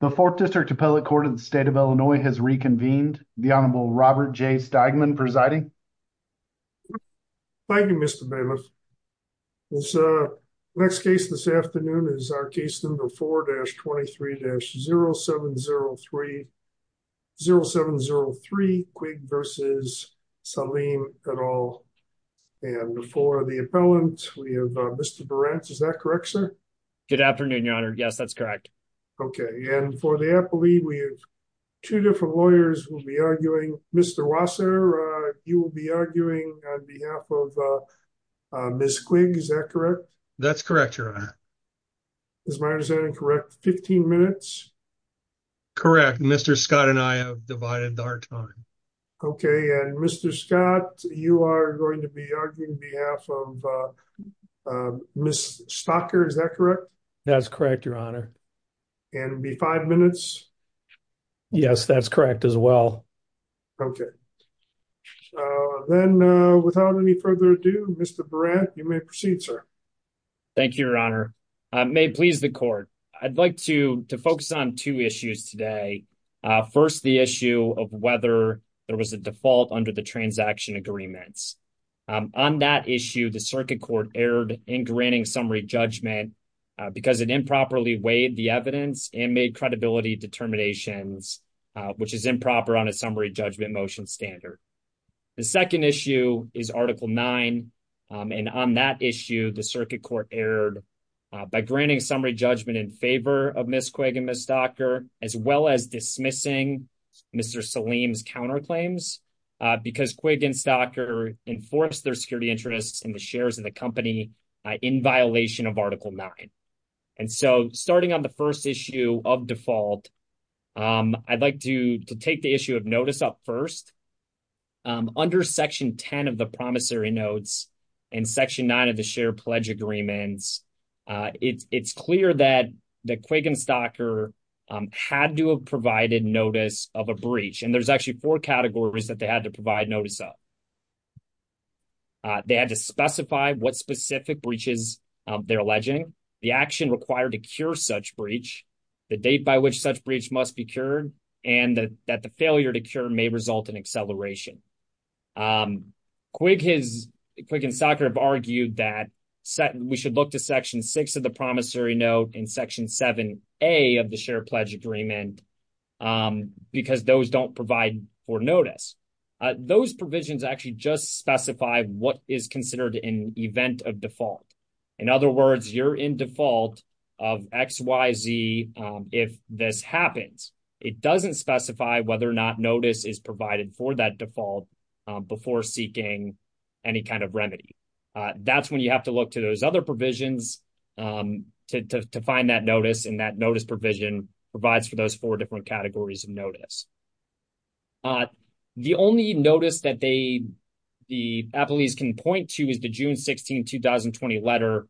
The 4th District Appellate Court of the State of Illinois has reconvened. The Honorable Robert J. Steigman presiding. Thank you, Mr. Bailiff. Next case this afternoon is our case number 4-23-0703, 0703 Quigg v. Saleem et al. And for the appellant, we have Mr. Berant. Is that correct, sir? Good afternoon, Your Honor. Yes, that's correct. Okay. And for the appellee, we have two different lawyers who will be arguing. Mr. Rosser, you will be arguing on behalf of Ms. Quigg. Is that correct? That's correct, Your Honor. Is my understanding correct? 15 minutes? Correct. Mr. Scott and I have divided our time. Okay. And Mr. Scott, you are going to be arguing on behalf of Ms. Stocker. Is that correct? That's correct, Your Honor. And it will be 5 minutes? Yes, that's correct as well. Okay. Then without any further ado, Mr. Berant, you may proceed, sir. Thank you, Your Honor. May it please the Court, I'd like to focus on two issues today. First, the issue of whether there was a default under the transaction agreements. On that issue, the Circuit Court erred in granting summary judgment because it improperly weighed the evidence and made credibility determinations, which is improper on a summary judgment motion standard. The second issue is Article 9. And on that issue, the Circuit Court erred by granting summary judgment in favor of Ms. Quigg and Ms. Stocker, as well as dismissing Mr. Saleem's counterclaims because Quigg and Stocker enforced their security interests in the shares of the company in violation of Article 9. And so, starting on the first issue of default, I'd like to take the issue of notice up first. Under Section 10 of the promissory notes and Section 9 of the share pledge agreements, it's clear that Quigg and Stocker had to have provided notice of a breach. And there's actually four categories that they had to provide notice of. They had to specify what specific breaches they're alleging, the action required to cure such breach, the date by which such breach must be cured, and that the failure to cure may result in acceleration. Quigg and Stocker have argued that we should look to Section 6 of the promissory note and Section 7a of the share pledge agreement because those don't provide for notice. Those provisions actually just specify what is considered an event of default. In other words, you're in default of X, Y, Z if this happens. It doesn't specify whether or not notice is provided for that default before seeking any kind of remedy. That's when you have to look to those other provisions to find that notice, and that notice provision provides for different categories of notice. The only notice that the appellees can point to is the June 16, 2020 letter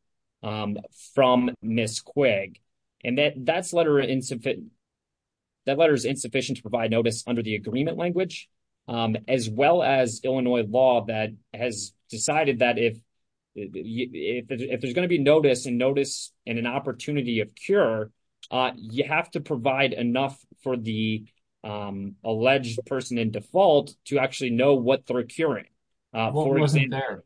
from Ms. Quigg, and that letter is insufficient to provide notice under the agreement language, as well as Illinois law that has decided that if there's going to be notice and an opportunity of cure, you have to provide enough for the alleged person in default to actually know what they're curing. What wasn't there?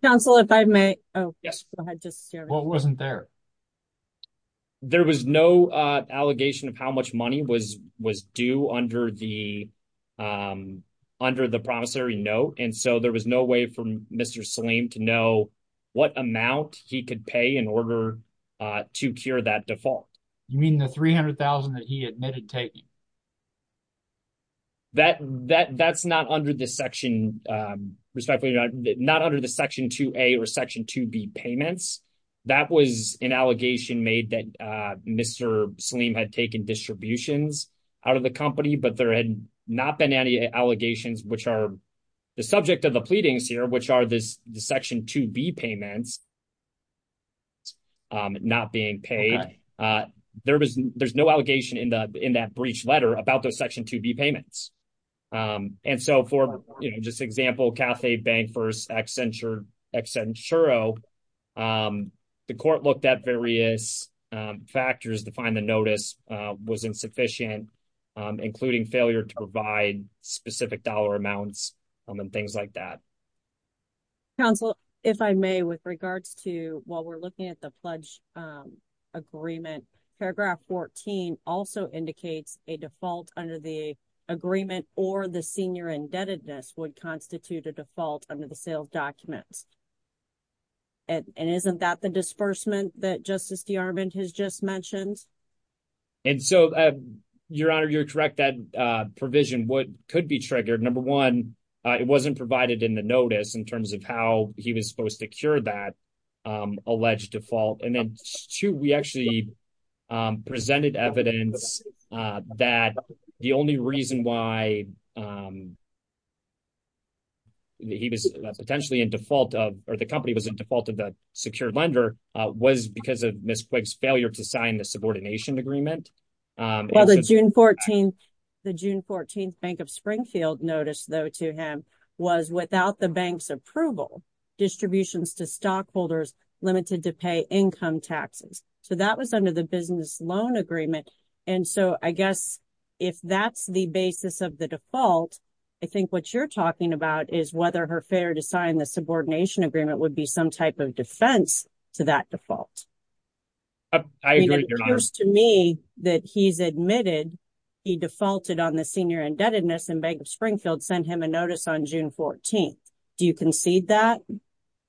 There was no allegation of how much money was due under the promissory note, and so there was no way for Mr. Saleem to know what amount he could pay in order to cure that default. You mean the $300,000 that he admitted taking? That's not under the Section 2A or Section 2B payments. That was an allegation made that Mr. Saleem had taken distributions out of the company, but there had not been any allegations which are the subject of the pleadings here, which are the Section 2B payments not being paid. There's no allegation in that breach letter about those Section 2B payments, and so for, you know, just example, Cathay Bank v. Accenturo, the court looked at various factors to find the notice was insufficient, including failure to provide specific dollar amounts and things like that. Counsel, if I may, with regards to while we're looking at the pledge agreement, paragraph 14 also indicates a default under the agreement or the senior indebtedness would constitute a default under the sales documents, and isn't that the disbursement that Justice DeArmond has just mentioned? And so, Your Honor, you're correct. That provision could be triggered. Number one, it wasn't provided in the notice in terms of how he was supposed to cure that alleged default, and then two, we actually presented evidence that the only reason why he was potentially in default of or the company was in default of the secured lender was because of Ms. Quigg's failure to sign the subordination agreement. Well, the June 14th Bank of Springfield notice, though, to him was without the bank's approval, distributions to stockholders limited to pay income taxes, so that was under the business loan agreement, and so I guess if that's the basis of the default, I think what you're talking about is whether her failure to sign the subordination agreement would be some type of defense to that default. I agree, Your Honor. It appears to me that he's admitted he defaulted on the senior indebtedness, and Bank of Springfield sent him a notice on June 14th. Do you concede that?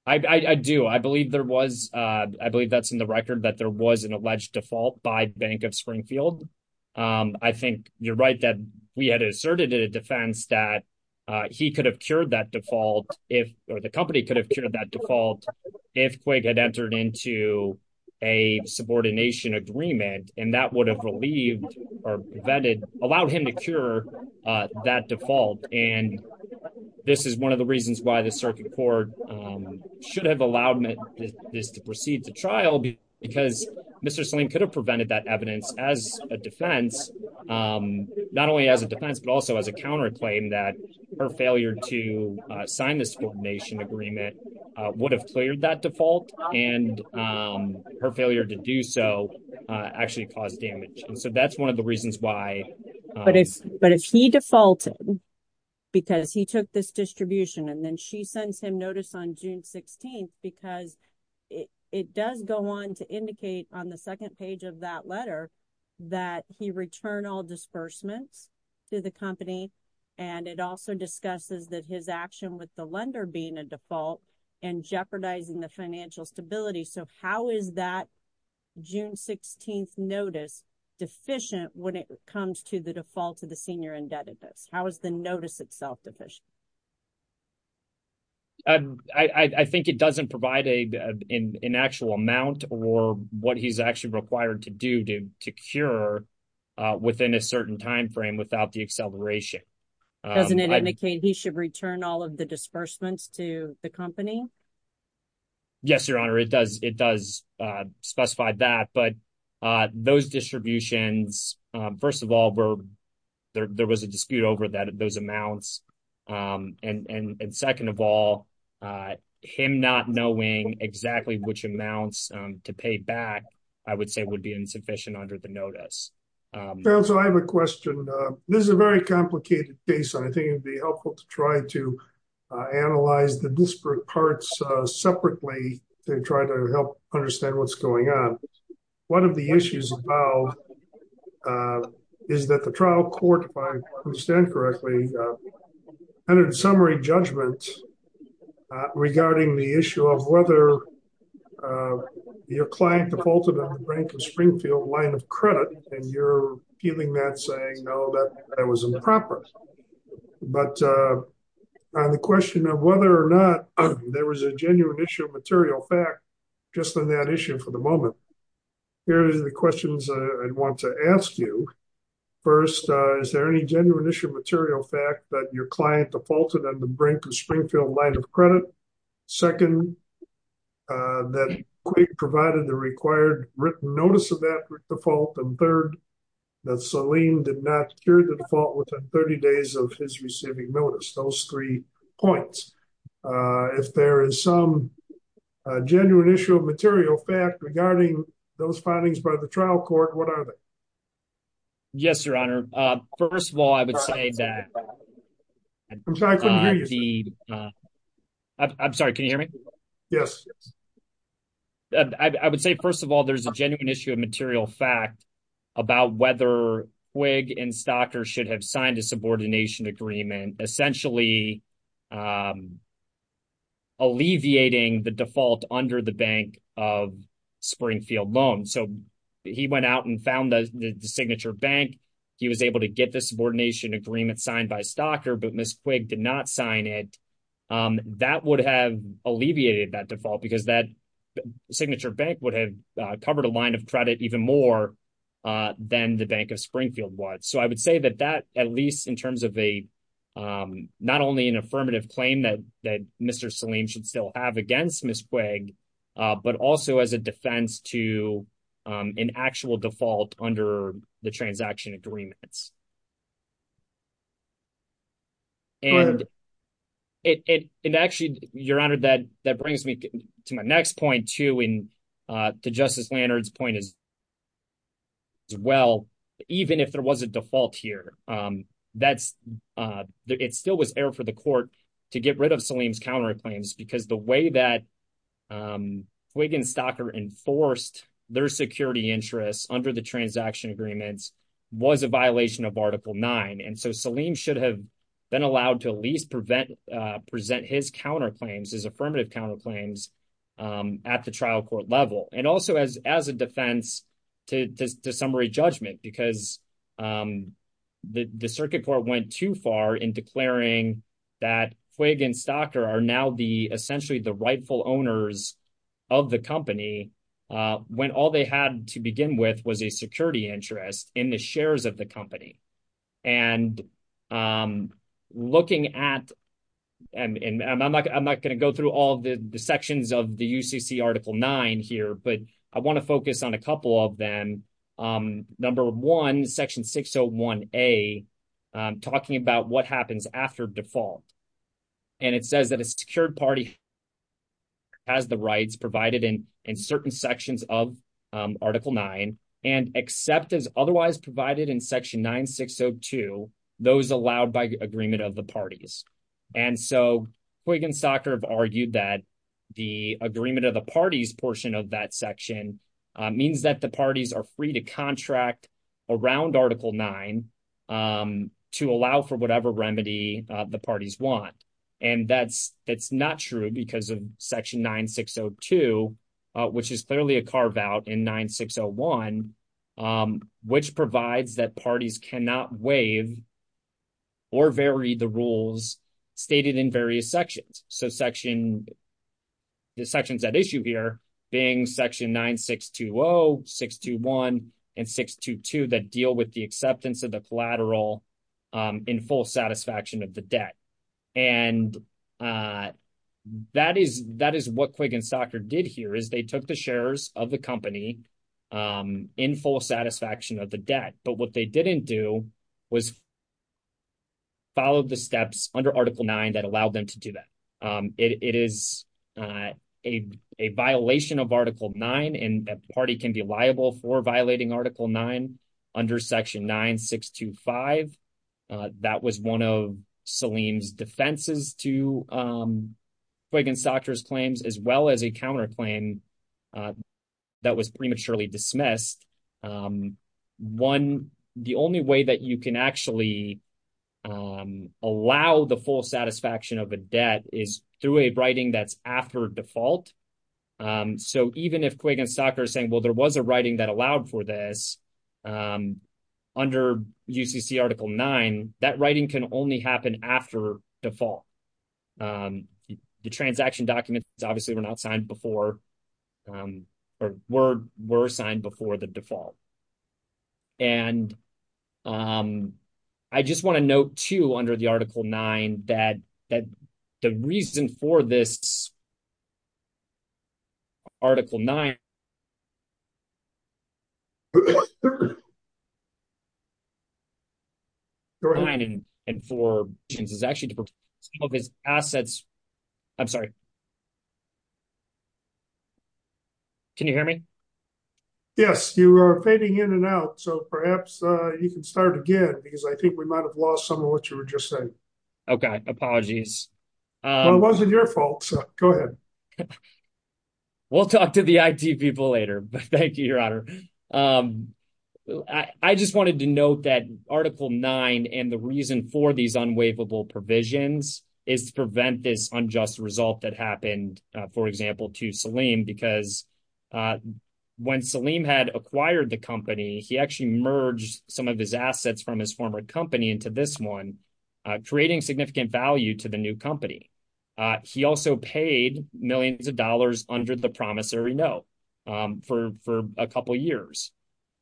I do. I believe there was, I believe that's in the record that there was an alleged default by Bank of Springfield. I think you're right that we had asserted in a defense that he could have cured that default if, or the company could have cured that default if Quigg had entered into a subordination agreement, and that would have relieved or prevented, allowed him to cure that default, and this is one of the reasons why the circuit court should have allowed this to proceed to trial, because Mr. Saleem could have prevented that evidence as a defense, not only as a defense, but also as a counterclaim that her failure to sign this subordination agreement would have cleared that default, and her failure to do so actually caused damage, so that's one of the reasons why. But if he defaulted because he took this distribution, and then she sends him notice on June 16th, because it does go on to indicate on the second page of that letter that he returned all disbursements to the company, and it also discusses that his action with the lender being a default and jeopardizing the financial stability, so how is that June 16th notice deficient when it comes to the default to the senior indebtedness? How is the notice itself deficient? I think it doesn't provide an actual amount or what he's actually required to do to cure within a certain time frame without the acceleration. Doesn't it indicate he should return all of the disbursements to the company? Yes, Your Honor, it does. It does specify that, but those distributions, first of all, there was a dispute over those amounts, and second of all, him not knowing exactly which amounts to pay back, I would say would be insufficient under the notice. So I have a question. This is a very complicated case, and I think it'd be helpful to try to separately to try to help understand what's going on. One of the issues about is that the trial court, if I understand correctly, had a summary judgment regarding the issue of whether your client defaulted on the rank of Springfield line of credit, and you're feeling that saying, no, that was improper, but on the genuine issue of material fact, just on that issue for the moment, here's the questions I'd want to ask you. First, is there any genuine issue of material fact that your client defaulted on the rank of Springfield line of credit? Second, that Quake provided the required written notice of that default? And third, that Salim did not hear the default within 30 days of his receiving notice, those three points. If there is some genuine issue of material fact regarding those findings by the trial court, what are they? Yes, your honor. First of all, I would say that I'm sorry, can you hear me? Yes. I would say, first of all, there's a genuine issue of material fact about whether Quake and Stocker should have signed a subordination agreement, essentially alleviating the default under the bank of Springfield loan. So he went out and found the signature bank. He was able to get the subordination agreement signed by Stocker, but Ms. Quake did not sign it. That would have alleviated that default because that signature bank would have covered a line of credit even more than the bank of Springfield was. So I would say that at least in terms of not only an affirmative claim that Mr. Salim should still have against Ms. Quake, but also as a defense to an actual default under the transaction agreements. And actually, your honor, that brings me to my next point, and to Justice Leonard's point as well. Even if there was a default here, it still was error for the court to get rid of Salim's counterclaims because the way that Quake and Stocker enforced their security interests under the transaction agreements was a violation of Article 9. And so Salim should have been allowed to at least present his affirmative counterclaims at the trial court level, and also as a defense to summary judgment because the circuit court went too far in declaring that Quake and Stocker are now essentially the rightful owners of the company when all they had to begin with was a security interest in the shares of the company. And I'm not going to go through all the sections of the UCC Article 9 here, but I want to focus on a couple of them. Number one, Section 601A, talking about what happens after default. And it says that a secured party has the rights provided in certain sections of Article 9, and except as otherwise provided in Section 9602, those allowed by agreement of the parties. And so Quake and Stocker have argued that the agreement of the parties portion of that section means that the parties are free to contract around Article 9 to allow for whatever remedy the parties want. And that's not true because of Section 9602, which is clearly a carve out in 9601, which provides that parties cannot waive or vary the rules stated in various sections. So the sections at issue here being Section 9620, 621, and 622 that deal with the acceptance of the collateral in full satisfaction of the debt. And that is what Quake and Stocker did here, is they took the shares of the company in full satisfaction of the debt. But what they didn't do was follow the steps under Article 9 that allowed them to do that. It is a violation of Article 9, and a party can be liable for violating Article 9 under Section 9625. That was one of Salim's defenses to Quake and Stocker's claims, as well as a counterclaim that was prematurely dismissed. One, the only way that you can actually allow the full satisfaction of a debt is through a writing that's after default. So even if Quake and Stocker are saying, well, there was a writing that allowed for this under UCC Article 9, that writing can only happen after default. The transaction documents obviously were not signed before or were signed before the default. And I just want to note, too, under the Article 9 that the reason for this Article 9 and for this is actually to protect some of his assets. I'm sorry. Can you hear me? Yes, you are fading in and out. So perhaps you can start again, because I think we might have lost some of what you were just saying. Okay. Apologies. Well, it wasn't your fault, so go ahead. We'll talk to the IT people later. Thank you, Your Honor. I just wanted to note that Article 9 and the reason for these unwaivable provisions is to prevent this unjust result that happened, for example, to Salim, because when Salim had acquired the company, he actually merged some of his assets from his former company into this one, creating significant value to the new company. He also paid millions of dollars under the promissory note for a couple of years.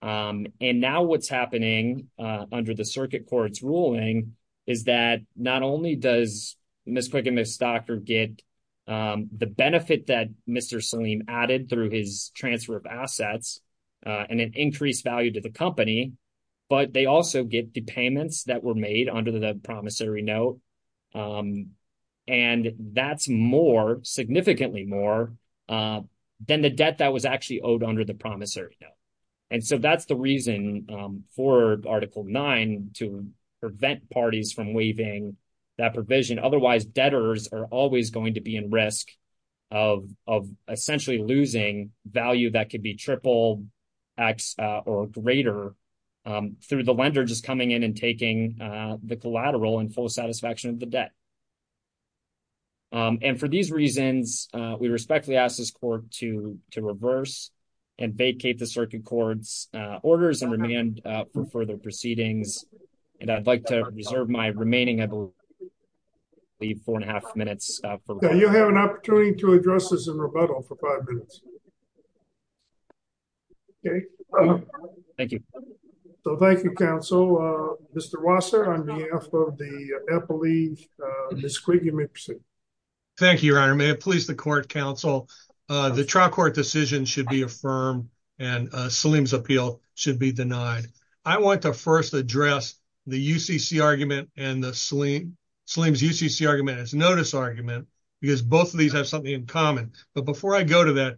And now what's happening under the circuit court's ruling is that not only does Ms. Quake and Ms. Stocker get the benefit that Mr. Salim added through his transfer of assets and an increased value to the company, but they also get the payments that were made under the promissory note. And that's more, significantly more than the debt that was actually owed under the promissory note. And so that's the reason for Article 9 to prevent parties from waiving that provision. Otherwise, debtors are always going to be in risk of essentially losing value that could be triple X or greater through the lender just coming in and taking the collateral in full satisfaction of the debt. And for these reasons, we respectfully ask this court to reverse and vacate the circuit court's orders and remand for further proceedings. And I'd like to reserve my remaining, I believe, four and a half minutes. You have an opportunity to address this in rebuttal for five minutes. Okay. Thank you. So thank you, counsel. Mr. Rosser, on behalf of the appellees, Ms. Quake, you may proceed. Thank you, your honor. May it please the court counsel, the trial court decision should be affirmed and Salim's appeal should be denied. I want to first address the UCC argument and Salim's UCC argument as notice argument because both of these have something in common. But before I go to that,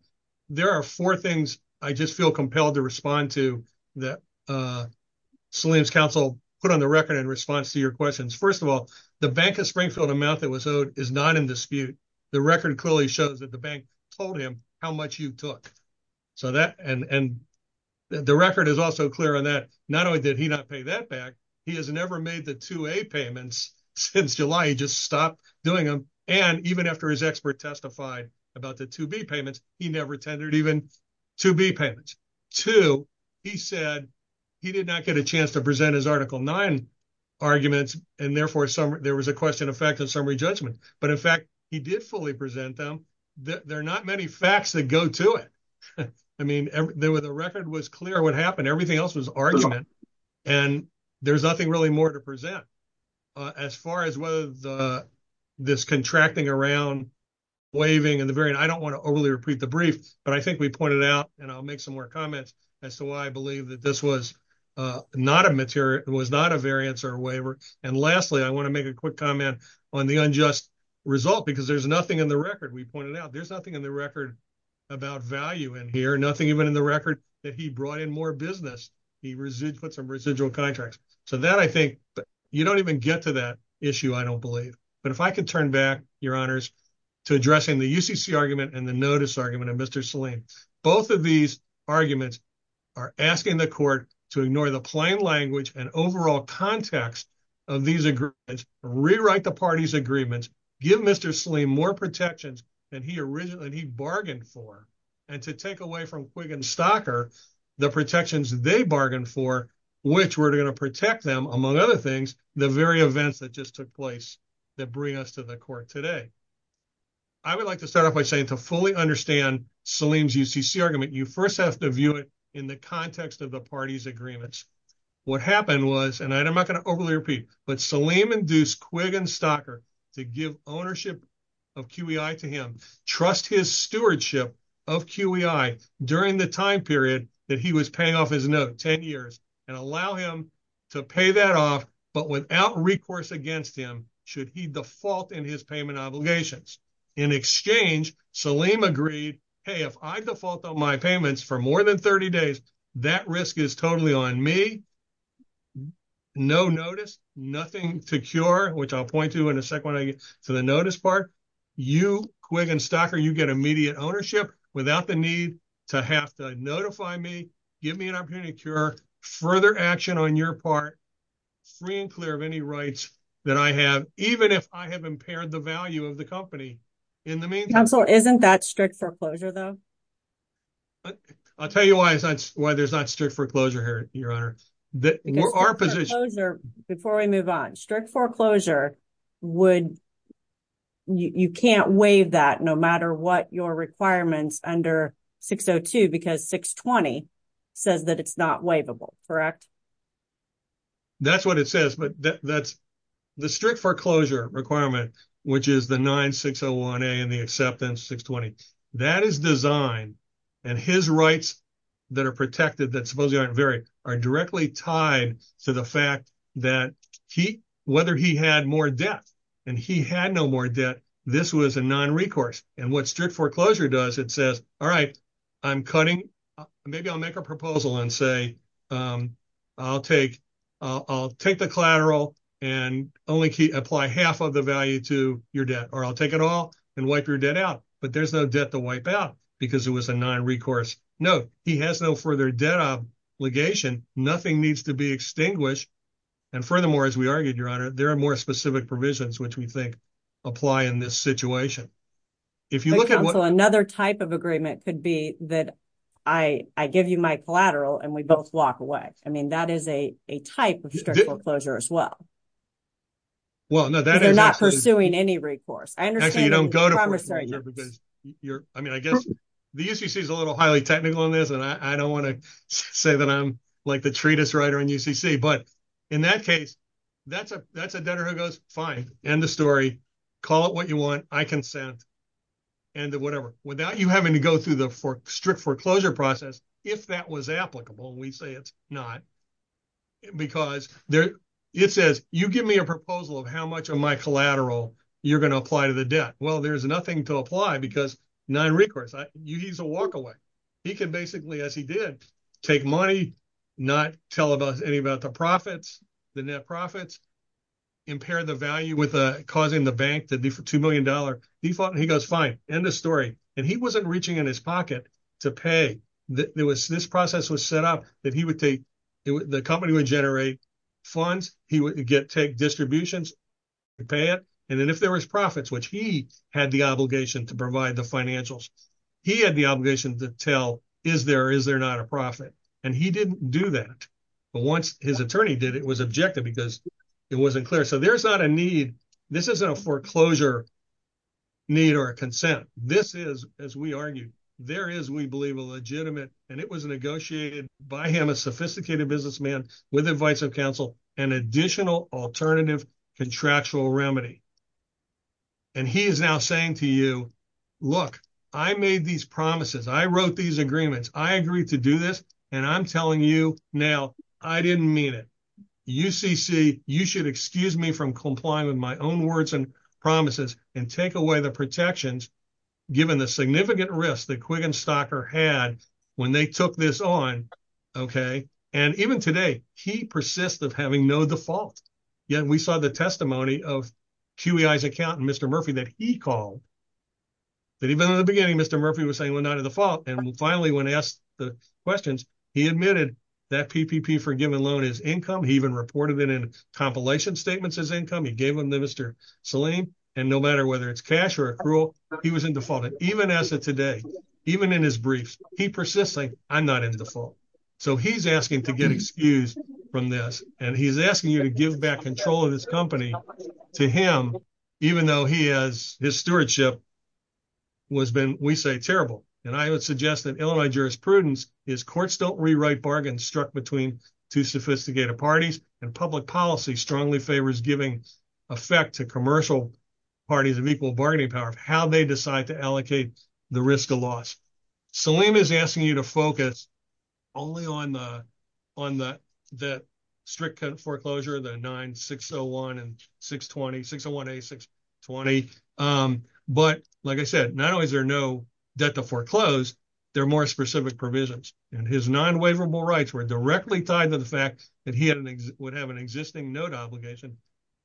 there are four things I just feel compelled to respond to that Salim's counsel put on the record in response to your questions. First of all, the Bank of Springfield amount that was owed is not in dispute. The record clearly shows that the bank told him how much you took. So that and the record is also clear on that. Not only did he not pay that back, he has never made the 2A payments since July. He just stopped doing them. And even after his expert testified about the 2B payments, he never attended even 2B payments. Two, he said he did not get a chance to present his article nine arguments and therefore there was a question of fact and summary judgment. But in fact, he did fully present them. There are not many facts that go to it. I mean, the record was clear what happened. Everything else was argument and there's nothing really more to present. As far as whether this contracting around waiving and the variant, I don't want to overly repeat the brief, but I think we pointed out and I'll make some more comments as to why I believe that this was not a variance or waiver. And lastly, I want to make a quick comment on the unjust result because there's nothing in the record. We pointed out there's nothing in the record about value in here, nothing even in the record that he brought in more business. He put some residual contracts. So that I think, you don't even get to that issue, I don't believe. But if I could turn back, your honors, to addressing the UCC argument and the notice argument of Mr. Saleem. Both of these arguments are asking the court to ignore the plain language and overall context of these agreements, rewrite the party's agreements, give Mr. Saleem more protections than he originally, bargained for, and to take away from Quigg and Stocker the protections they bargained for, which were going to protect them, among other things, the very events that just took place that bring us to the court today. I would like to start off by saying to fully understand Saleem's UCC argument, you first have to view it in the context of the party's agreements. What happened was, and I'm not going to overly repeat, but Saleem induced Quigg and Stocker to give ownership of QEI to him, trust his stewardship of QEI during the time period that he was paying off his note, 10 years, and allow him to pay that off, but without recourse against him, should he default in his payment obligations. In exchange, Saleem agreed, hey, if I default on my payments for more than 30 days, that risk is totally on me, no notice, nothing to cure, which I'll point to in a second when I get to the notice part. You, Quigg and Stocker, you get immediate ownership without the need to have to notify me, give me an opportunity to cure, further action on your part, free and clear of any rights that I have, even if I have impaired the value of the company in the meantime. Counselor, isn't that strict foreclosure though? I'll tell you why there's not strict foreclosure here, Your Honor. Before we move on, strict foreclosure, you can't waive that no matter what your requirements under 602, because 620 says that it's not waivable, correct? That's what it says, but the strict foreclosure requirement, which is the 9601A and the and his rights that are protected that supposedly aren't varied are directly tied to the fact that whether he had more debt and he had no more debt, this was a non-recourse. And what strict foreclosure does, it says, all right, I'm cutting, maybe I'll make a proposal and say, I'll take the collateral and only apply half of the value to your debt, or I'll take it and wipe your debt out, but there's no debt to wipe out because it was a non-recourse. No, he has no further debt obligation, nothing needs to be extinguished. And furthermore, as we argued, Your Honor, there are more specific provisions, which we think apply in this situation. If you look at what... Another type of agreement could be that I give you my collateral and we both walk away. I mean, that is a type of strict foreclosure as well. Well, no, that is... I mean, I guess the UCC is a little highly technical on this and I don't want to say that I'm like the treatise writer in UCC, but in that case, that's a debtor who goes, fine, end the story, call it what you want, I consent, end of whatever. Without you having to go through the strict foreclosure process, if that was applicable, we say it's not because it says, you give me a proposal of how much of my collateral you're going to apply to the debt. Well, there's nothing to apply because non-recourse, he's a walkaway. He can basically, as he did, take money, not tell us any about the profits, the net profits, impair the value with causing the bank to do for $2 million. He goes, fine, end of story. And he wasn't reaching in his pocket to pay. This process was set up that he would take... The company would generate funds. He would take distributions to pay it. And then if there was profits, which he had the obligation to provide the financials, he had the obligation to tell, is there or is there not a profit? And he didn't do that. But once his attorney did, it was objective because it wasn't clear. So there's not a need. This isn't a foreclosure need or a consent. This is, as we argued, there is, we believe, a legitimate, and it was negotiated by him, a sophisticated businessman with advice of counsel, an additional alternative contractual remedy. And he is now saying to you, look, I made these promises. I wrote these agreements. I agreed to do this. And I'm telling you now, I didn't mean it. UCC, you should excuse me from complying with my own words and promises and take away the given the significant risk that Quiggin Stocker had when they took this on, okay? And even today, he persists of having no default. Yet we saw the testimony of QEI's accountant, Mr. Murphy, that he called, that even in the beginning, Mr. Murphy was saying, well, not to the fault. And finally, when asked the questions, he admitted that PPP for a given loan is income. He even reported it in compilation statements as income. He gave them to Mr. Salim. And no matter whether it's cash or accrual, he was in default. And even as of today, even in his briefs, he persists saying, I'm not in default. So he's asking to get excused from this. And he's asking you to give back control of his company to him, even though he has, his stewardship has been, we say, terrible. And I would suggest that Illinois jurisprudence is courts don't rewrite bargains struck between two sophisticated parties. And public policy strongly favors giving effect to commercial parties of equal bargaining power of how they decide to allocate the risk of loss. Salim is asking you to focus only on the strict foreclosure, the 9601 and 620, 601A, 620. But like I said, not only is there no debt to foreclose, there are more specific provisions. And his non-waverable rights were directly tied to the fact that he would have an existing note obligation.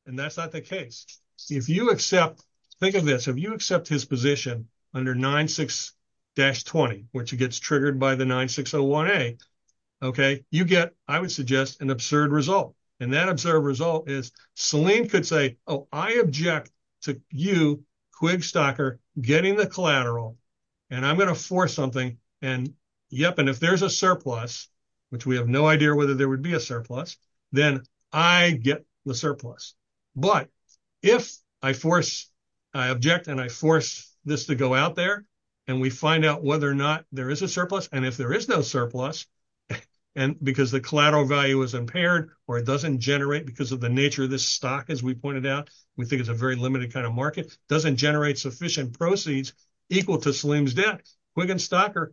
And that's not the case. If you accept, think of this, if you accept his position under 96-20, which gets triggered by the 9601A, okay, you get, I would suggest, an absurd result. And that absurd result is Salim could say, oh, I object to you, Quigstocker, getting the collateral, and I'm going to force something. And yep, and if there's a surplus, which we have no idea whether there would be a surplus, then I get the surplus. But if I force, I object, and I force this to go out there, and we find out whether or not there is a surplus, and if there is no surplus, and because the collateral value is impaired, or it doesn't generate because of the nature of this stock, as we pointed out, we think it's a very limited kind of market, doesn't generate sufficient proceeds equal to Salim's debt. Quig and Stocker,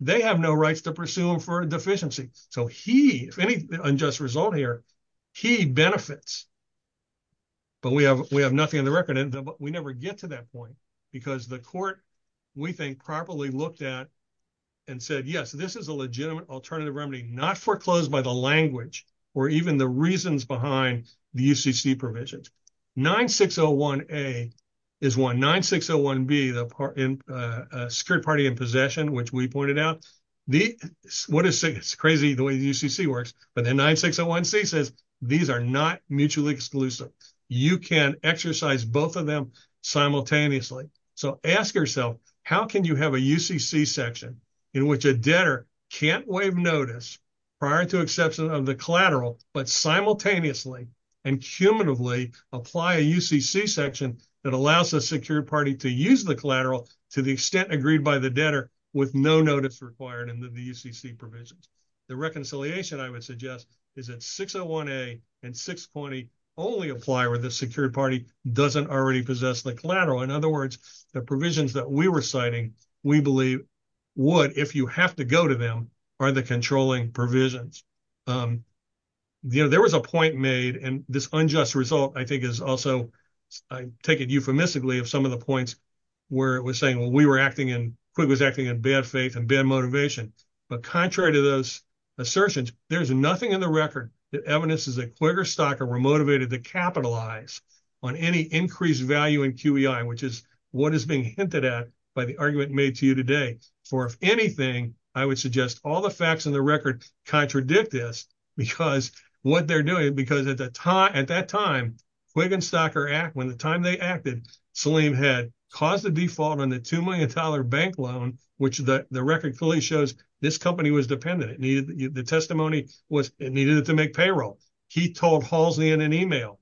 they have no rights to pursue him for deficiency. So he, if any unjust result here, he benefits. But we have nothing on the record, but we never get to that point, because the court, we think, properly looked at and said, yes, this is a legitimate alternative remedy, not foreclosed by the language, or even the reasons behind the UCC provisions. 9601A is one. 9601B, the Secured Party in Possession, which we pointed out, what is, it's crazy the way the UCC works, but then 9601C says, these are not mutually exclusive. You can exercise both of them simultaneously. So ask yourself, how can you have a UCC section in which a debtor can't waive notice prior to exception of the collateral, but simultaneously and cumulatively apply a UCC section that allows the Secured Party to use the collateral to the extent agreed by the debtor with no notice required in the UCC provisions. The reconciliation I would suggest is that 601A and 620 only apply where the Secured Party doesn't already possess the collateral. In other words, the provisions that we were citing, we believe would, if you have to go to them, are the controlling provisions. There was a point made, and this unjust result, I think, is also, I take it euphemistically of some of the points where it was saying, well, we were acting in, Quigley was acting in bad faith and bad motivation. But contrary to those assertions, there's nothing in the record that evidences that Quigley or Stocker were motivated to capitalize on any increased value in QEI, which is what is being hinted at by the argument made to you today. For if anything, I would suggest all the facts in the record contradict this because what they're doing, because at that time, Quigley and Stocker, when the time they acted, Saleem had caused a default on the $2 million bank loan, which the record clearly shows this company was dependent. The testimony was it needed to make payroll. He told Halsey in an email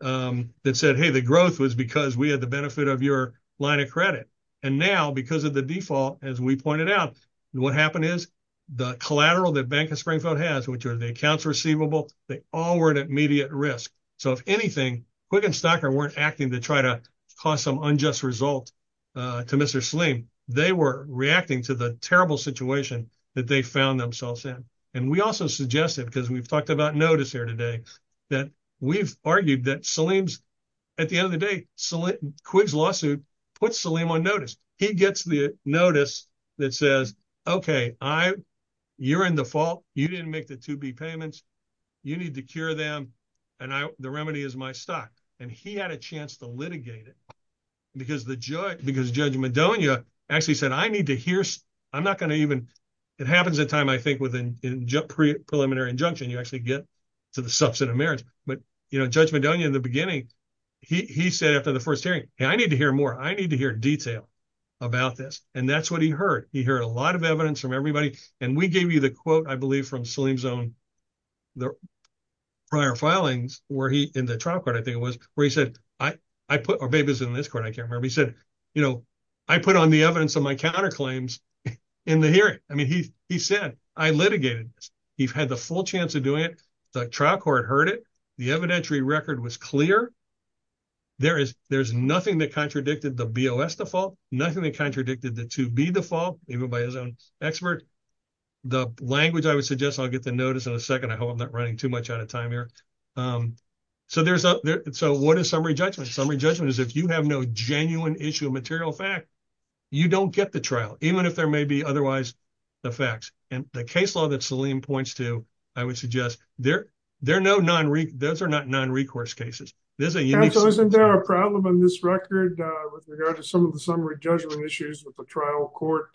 that said, hey, the growth was because we had the benefit of your line of credit. And now because of the default, as we pointed out, what happened is the collateral that Bank of Springfield has, which are the accounts receivable, they all were at immediate risk. So if anything, Quigley and Stocker weren't acting to try to cause some unjust result to Mr. Saleem. They were reacting to the terrible situation that they found themselves in. And we also suggested, because we've talked about notice here today, that we've argued that Saleem's, at the end of the day, Quigley's lawsuit puts Saleem on notice. He gets the notice that says, OK, I, you're in the fault. You didn't make the 2B payments. You need to cure them. And the remedy is my stock. And he had a chance to litigate it because the judge, because Judge Madonia actually said, I need to hear. I'm not going to even. It happens that time, I think, with a preliminary injunction, you actually get to the beginning. He said after the first hearing, I need to hear more. I need to hear detail about this. And that's what he heard. He heard a lot of evidence from everybody. And we gave you the quote, I believe, from Saleem's own prior filings where he, in the trial court, I think it was, where he said, I put our babies in this court. I can't remember. He said, you know, I put on the evidence of my counterclaims in the hearing. I mean, he said, I litigated this. He had the full chance of doing it. The trial court heard it. The evidentiary record was clear. There's nothing that contradicted the BOS default, nothing that contradicted the 2B default, even by his own expert. The language, I would suggest, I'll get to notice in a second. I hope I'm not running too much out of time here. So what is summary judgment? Summary judgment is if you have no genuine issue of material fact, you don't get the trial, even if there may be otherwise the facts. And the case law that Saleem points to, I would suggest, there are no non-recourse, those are not non-recourse cases. Isn't there a problem in this record with regard to some of the summary judgment issues with the trial court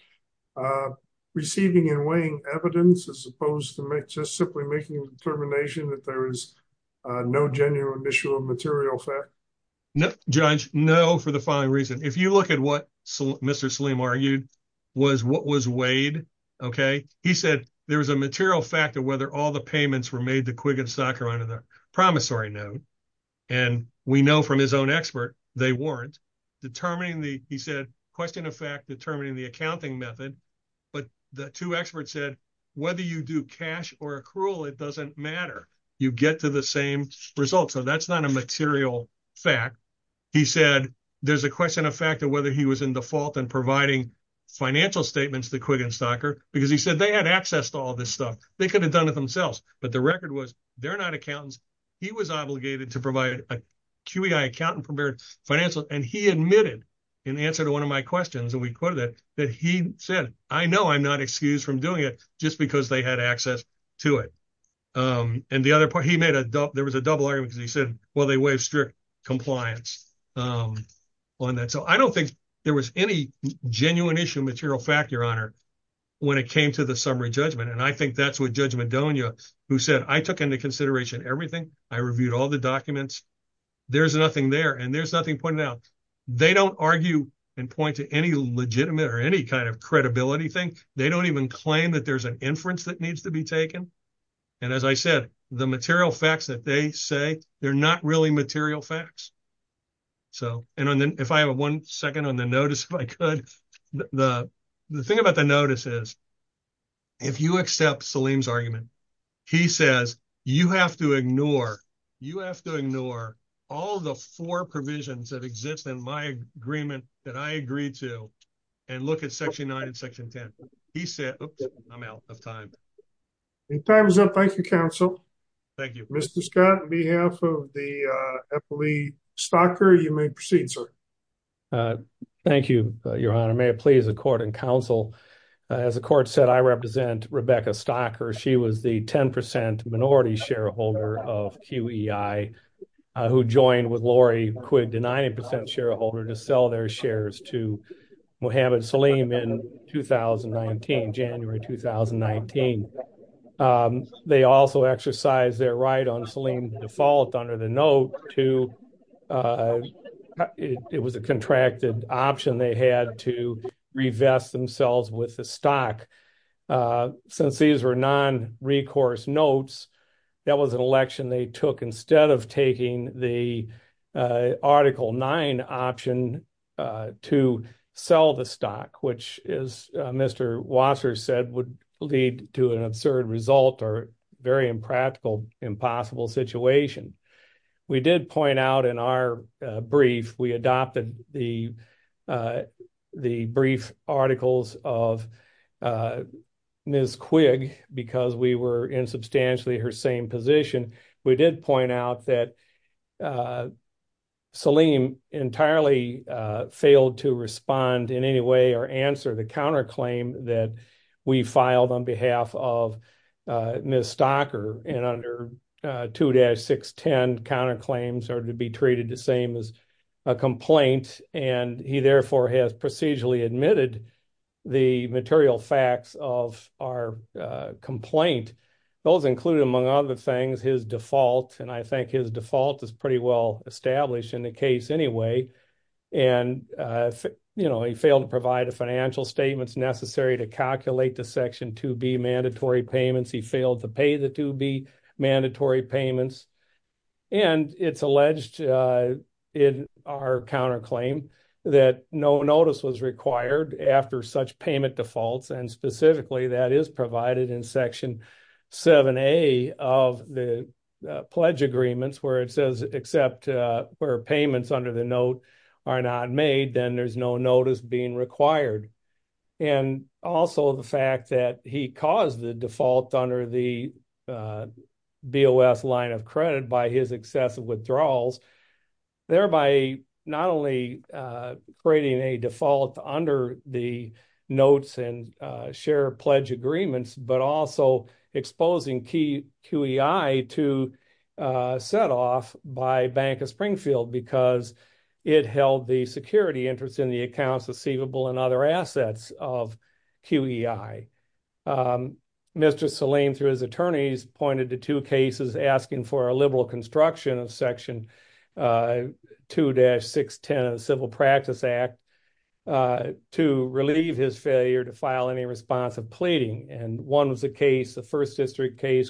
receiving and weighing evidence as opposed to just simply making a determination that there is no genuine issue of material fact? Judge, no, for the following reason. If you look at what Mr. Saleem argued, was what was weighed, okay? He said there was a material fact of whether all the payments were made to Quigley and Socker on a promissory note. And we know from his own expert, they weren't. Determining the, he said, question of fact, determining the accounting method. But the two experts said, whether you do cash or accrual, it doesn't matter. You get to the same result. So that's not a material fact. He said, there's a question of fact of whether he was in default and providing financial statements to Quigley and Socker, because he said they had access to all this stuff. They could have done it themselves. But the record was, they're not accountants. He was obligated to provide a QEI account and prepared financial. And he admitted in answer to one of my questions, and we quoted it, that he said, I know I'm not excused from doing it just because they had access to it. And the other part, he made a, there was a double argument because he said, well, they have strict compliance on that. So I don't think there was any genuine issue of material fact, Your Honor, when it came to the summary judgment. And I think that's what Judge Madonia, who said, I took into consideration everything. I reviewed all the documents. There's nothing there and there's nothing pointed out. They don't argue and point to any legitimate or any kind of credibility thing. They don't even claim that there's an inference that needs to be taken. And as I said, the material facts that they say, they're not really material facts. So, and if I have one second on the notice, if I could, the thing about the notice is, if you accept Saleem's argument, he says, you have to ignore, you have to ignore all the four provisions that exist in my agreement that I agreed to and look at Section 9 and Section 10. He said, oops, I'm out of time. Your time is up. Thank you, counsel. Thank you. Mr. Scott, on behalf of the FLE Stocker, you may proceed, sir. Thank you, Your Honor. May it please the court and counsel. As the court said, I represent Rebecca Stocker. She was the 10% minority shareholder of QEI, who joined with Lori Quigg, the 90% shareholder, to sell their shares to Mohamed Saleem in 2019, January 2019. They also exercised their right on Saleem default under the note to, it was a contracted option they had to revest themselves with the stock. Since these were non-recourse notes, that was an election they took instead of taking the Article 9 option to sell the stock, which, as Mr. Wasser said, would lead to an absurd result or very impractical, impossible situation. We did point out in our brief, we adopted the brief articles of Ms. Quigg because we were in substantially her same position. We did point out that Saleem entirely failed to respond in any way or answer the counterclaim that we filed on behalf of Ms. Stocker. Under 2-610, counterclaims are to be treated the same as a complaint, and he therefore has procedurally admitted the material facts of our complaint. Those include, among other things, his default, and I think his default is pretty well established in the case anyway. He failed to provide the financial statements necessary to calculate the Section 2B mandatory payments. He failed to pay the 2B mandatory payments. It's alleged in our counterclaim that no notice was required after such payment defaults, specifically that is provided in Section 7A of the pledge agreements where it says except where payments under the note are not made, then there's no notice being required. Also, the fact that he caused the default under the BOS line of credit by his excessive share pledge agreements, but also exposing QEI to set off by Bank of Springfield because it held the security interest in the accounts receivable and other assets of QEI. Mr. Saleem, through his attorneys, pointed to two cases asking for a liberal construction of Section 2-610 of the Civil Practice Act to relieve his failure to file any response of pleading. One was the first district case,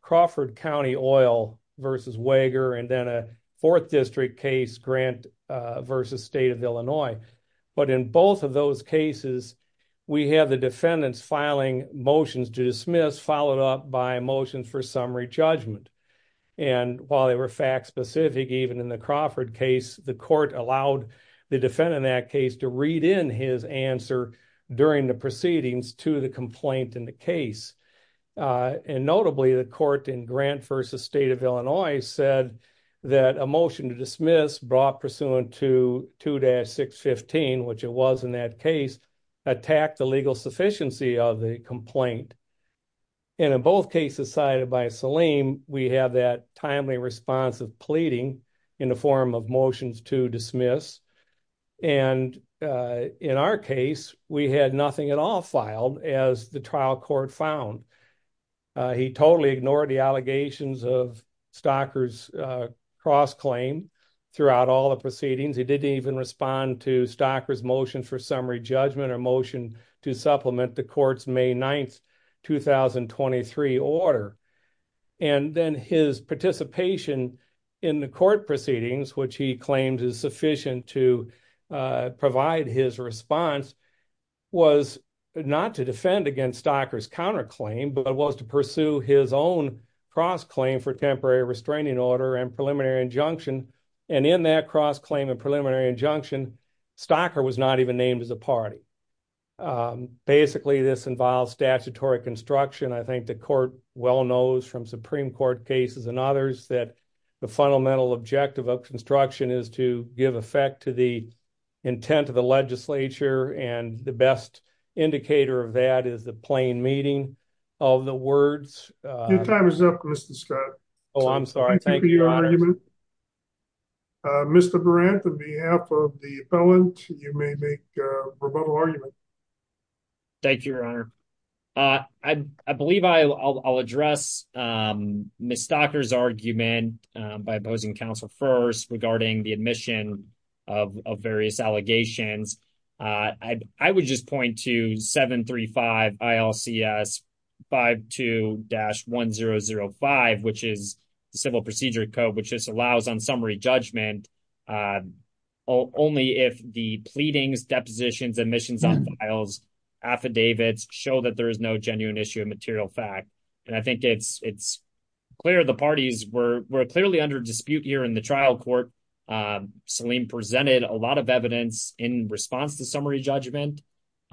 Crawford County Oil v. Wager, and then a fourth district case, Grant v. State of Illinois. In both of those cases, we have the defendants filing motions to dismiss, followed up by summary judgment. While they were fact-specific, even in the Crawford case, the court allowed the defendant in that case to read in his answer during the proceedings to the complaint in the case. Notably, the court in Grant v. State of Illinois said that a motion to dismiss brought pursuant to 2-615, which it was in that case, attacked the legal sufficiency of the complaint. And in both cases cited by Saleem, we have that timely response of pleading in the form of motions to dismiss. And in our case, we had nothing at all filed, as the trial court found. He totally ignored the allegations of Stocker's cross-claim throughout all the proceedings. He didn't even respond to Stocker's motion for summary judgment or motion to supplement the court's May 9, 2023 order. And then his participation in the court proceedings, which he claimed is sufficient to provide his response, was not to defend against Stocker's counterclaim, but was to pursue his own cross-claim for temporary restraining order and preliminary injunction. And in that cross-claim and preliminary injunction, Stocker was not even named as a party. Um, basically, this involves statutory construction. I think the court well knows from Supreme Court cases and others that the fundamental objective of construction is to give effect to the intent of the legislature. And the best indicator of that is the plain meaning of the words. Your time is up, Mr. Scott. Oh, I'm sorry. Thank you for your argument. Mr. Burrant, on behalf of the appellant, you may make a rebuttal argument. Thank you, Your Honor. Uh, I believe I'll address, um, Ms. Stocker's argument by opposing counsel first regarding the admission of various allegations. Uh, I would just point to 735 ILCS 52-1005, which is the Civil Procedure Code, which is allows on summary judgment, uh, only if the pleadings, depositions, admissions on files, affidavits show that there is no genuine issue of material fact. And I think it's clear the parties were clearly under dispute here in the trial court. Um, Salim presented a lot of evidence in response to summary judgment.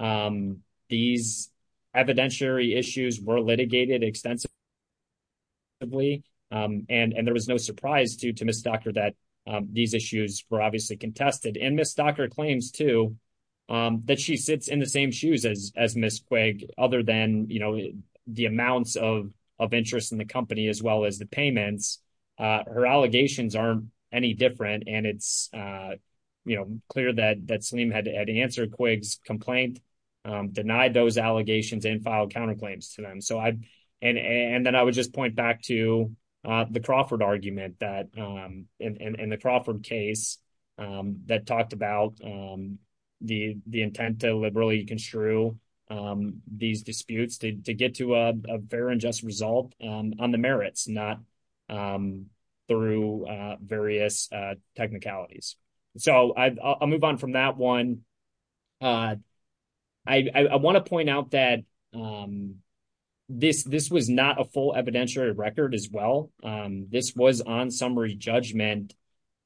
Um, these evidentiary issues were litigated extensively, um, and there was no surprise due to Ms. Stocker that, um, these issues were obviously contested. And Ms. Stocker claims too, um, that she sits in the same shoes as, as Ms. Quigg, other than, you know, the amounts of, of interest in the company as well as the payments. Uh, her allegations aren't any different. And it's, uh, you know, clear that, that Salim had answered Quigg's complaint, um, denied those allegations and filed counterclaims to them. And then I would just point back to, uh, the Crawford argument that, um, in, in the Crawford case, um, that talked about, um, the, the intent to liberally construe, um, these disputes to, to get to a fair and just result, um, on the merits, not, um, through, uh, various, uh, technicalities. So I, I'll move on from that one. Uh, I, I want to point out that, um, this, this was not a full evidentiary record as well. Um, this was on summary judgment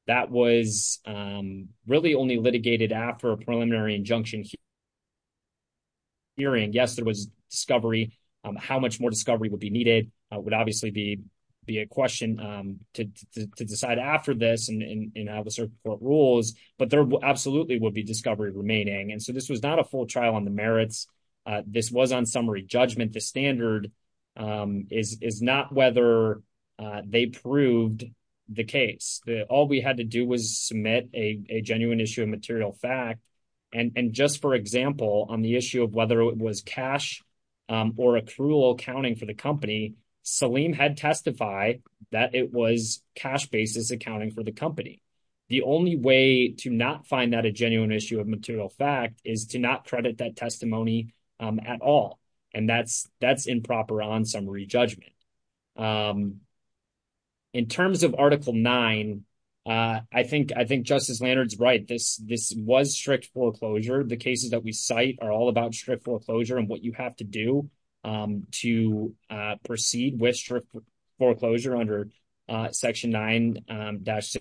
that was, um, really only litigated after a preliminary injunction hearing. Yes, there was discovery, um, how much more discovery would be needed. Would obviously be, be a question, um, to, to, to decide after this and, and, and have a certain court rules, but there absolutely would be discovery remaining. And so this was not a full trial on the merits. Uh, this was on summary judgment. The standard, um, is, is not whether, uh, they proved the case that all we had to do was submit a, a genuine issue of material fact. And, and just for example, on the issue of whether it was cash, um, or accrual accounting for the company, Saleem had testified that it was cash basis accounting for the company. The only way to not find that a genuine issue of material fact is to not credit that testimony, um, at all. And that's, that's improper on summary judgment. Um, in terms of article nine, uh, I think, I think Justice Lannert's right. This, this was strict foreclosure. The cases that we cite are all about strict foreclosure and what you have to do, um, to, uh, proceed with strict foreclosure under, uh, section nine, um, dash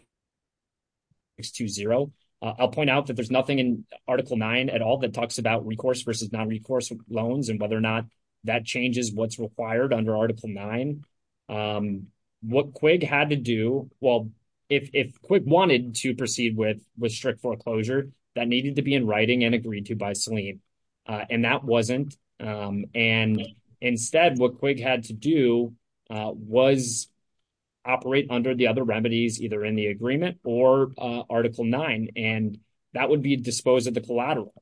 six two zero. I'll point out that there's nothing in article nine at all that talks about recourse versus non-recourse loans and whether or not that changes what's required under article nine. Um, what Quig had to do, well, if, if Quig wanted to proceed with, with strict foreclosure, that needed to be in writing and agreed to by Saleem, uh, and that wasn't. Um, and instead what Quig had to do, uh, was operate under the other remedies either in the agreement or, uh, article nine, and that would be disposed of the collateral.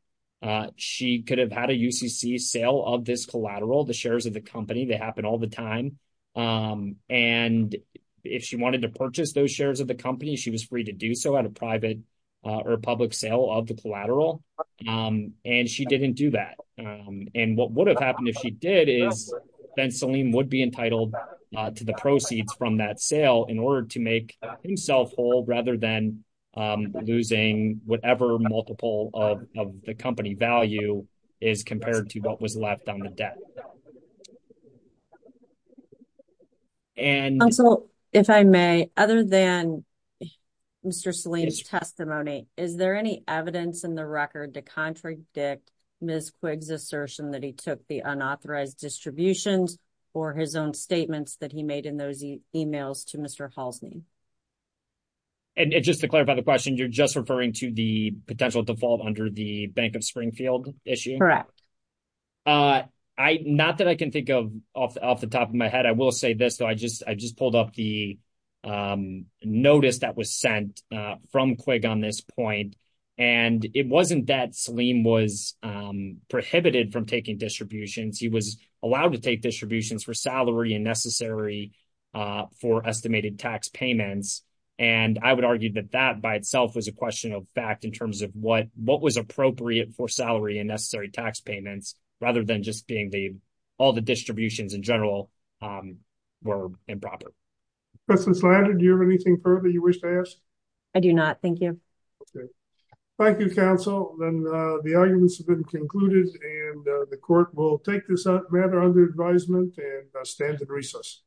Uh, she could have had a UCC sale of this collateral, the shares of the company, they happen all the time. Um, and if she wanted to purchase those shares of the company, she was free to do so at a private, uh, or public sale of the collateral. Um, and she didn't do that. Um, and what would have happened if she did is then Saleem would be entitled, uh, to the proceeds from that sale in order to make himself whole rather than, um, losing whatever multiple of, of the company value is compared to what was left on the debt. And also, if I may, other than Mr. Saleem's testimony, is there any evidence in the record to contradict Ms. Quig's assertion that he took the unauthorized distributions or his own statements that he made in those emails to Mr. Halsney? And just to clarify the question, you're just referring to the potential default under the Bank of Springfield issue? Uh, I, not that I can think of off, off the top of my head, I will say this though, I just, I just pulled up the, um, notice that was sent, uh, from Quig on this point. And it wasn't that Saleem was, um, prohibited from taking distributions. He was allowed to take distributions for salary and necessary, uh, for estimated tax payments. And I would argue that that by itself was a question of fact in terms of what, what was appropriate for salary and necessary tax payments, rather than just being the, all the distributions in general, um, were improper. Professor Slater, do you have anything further you wish to ask? I do not. Thank you. Thank you, counsel. Then, uh, the arguments have been concluded and, uh, the court will take this matter under advisement and, uh, stand at recess.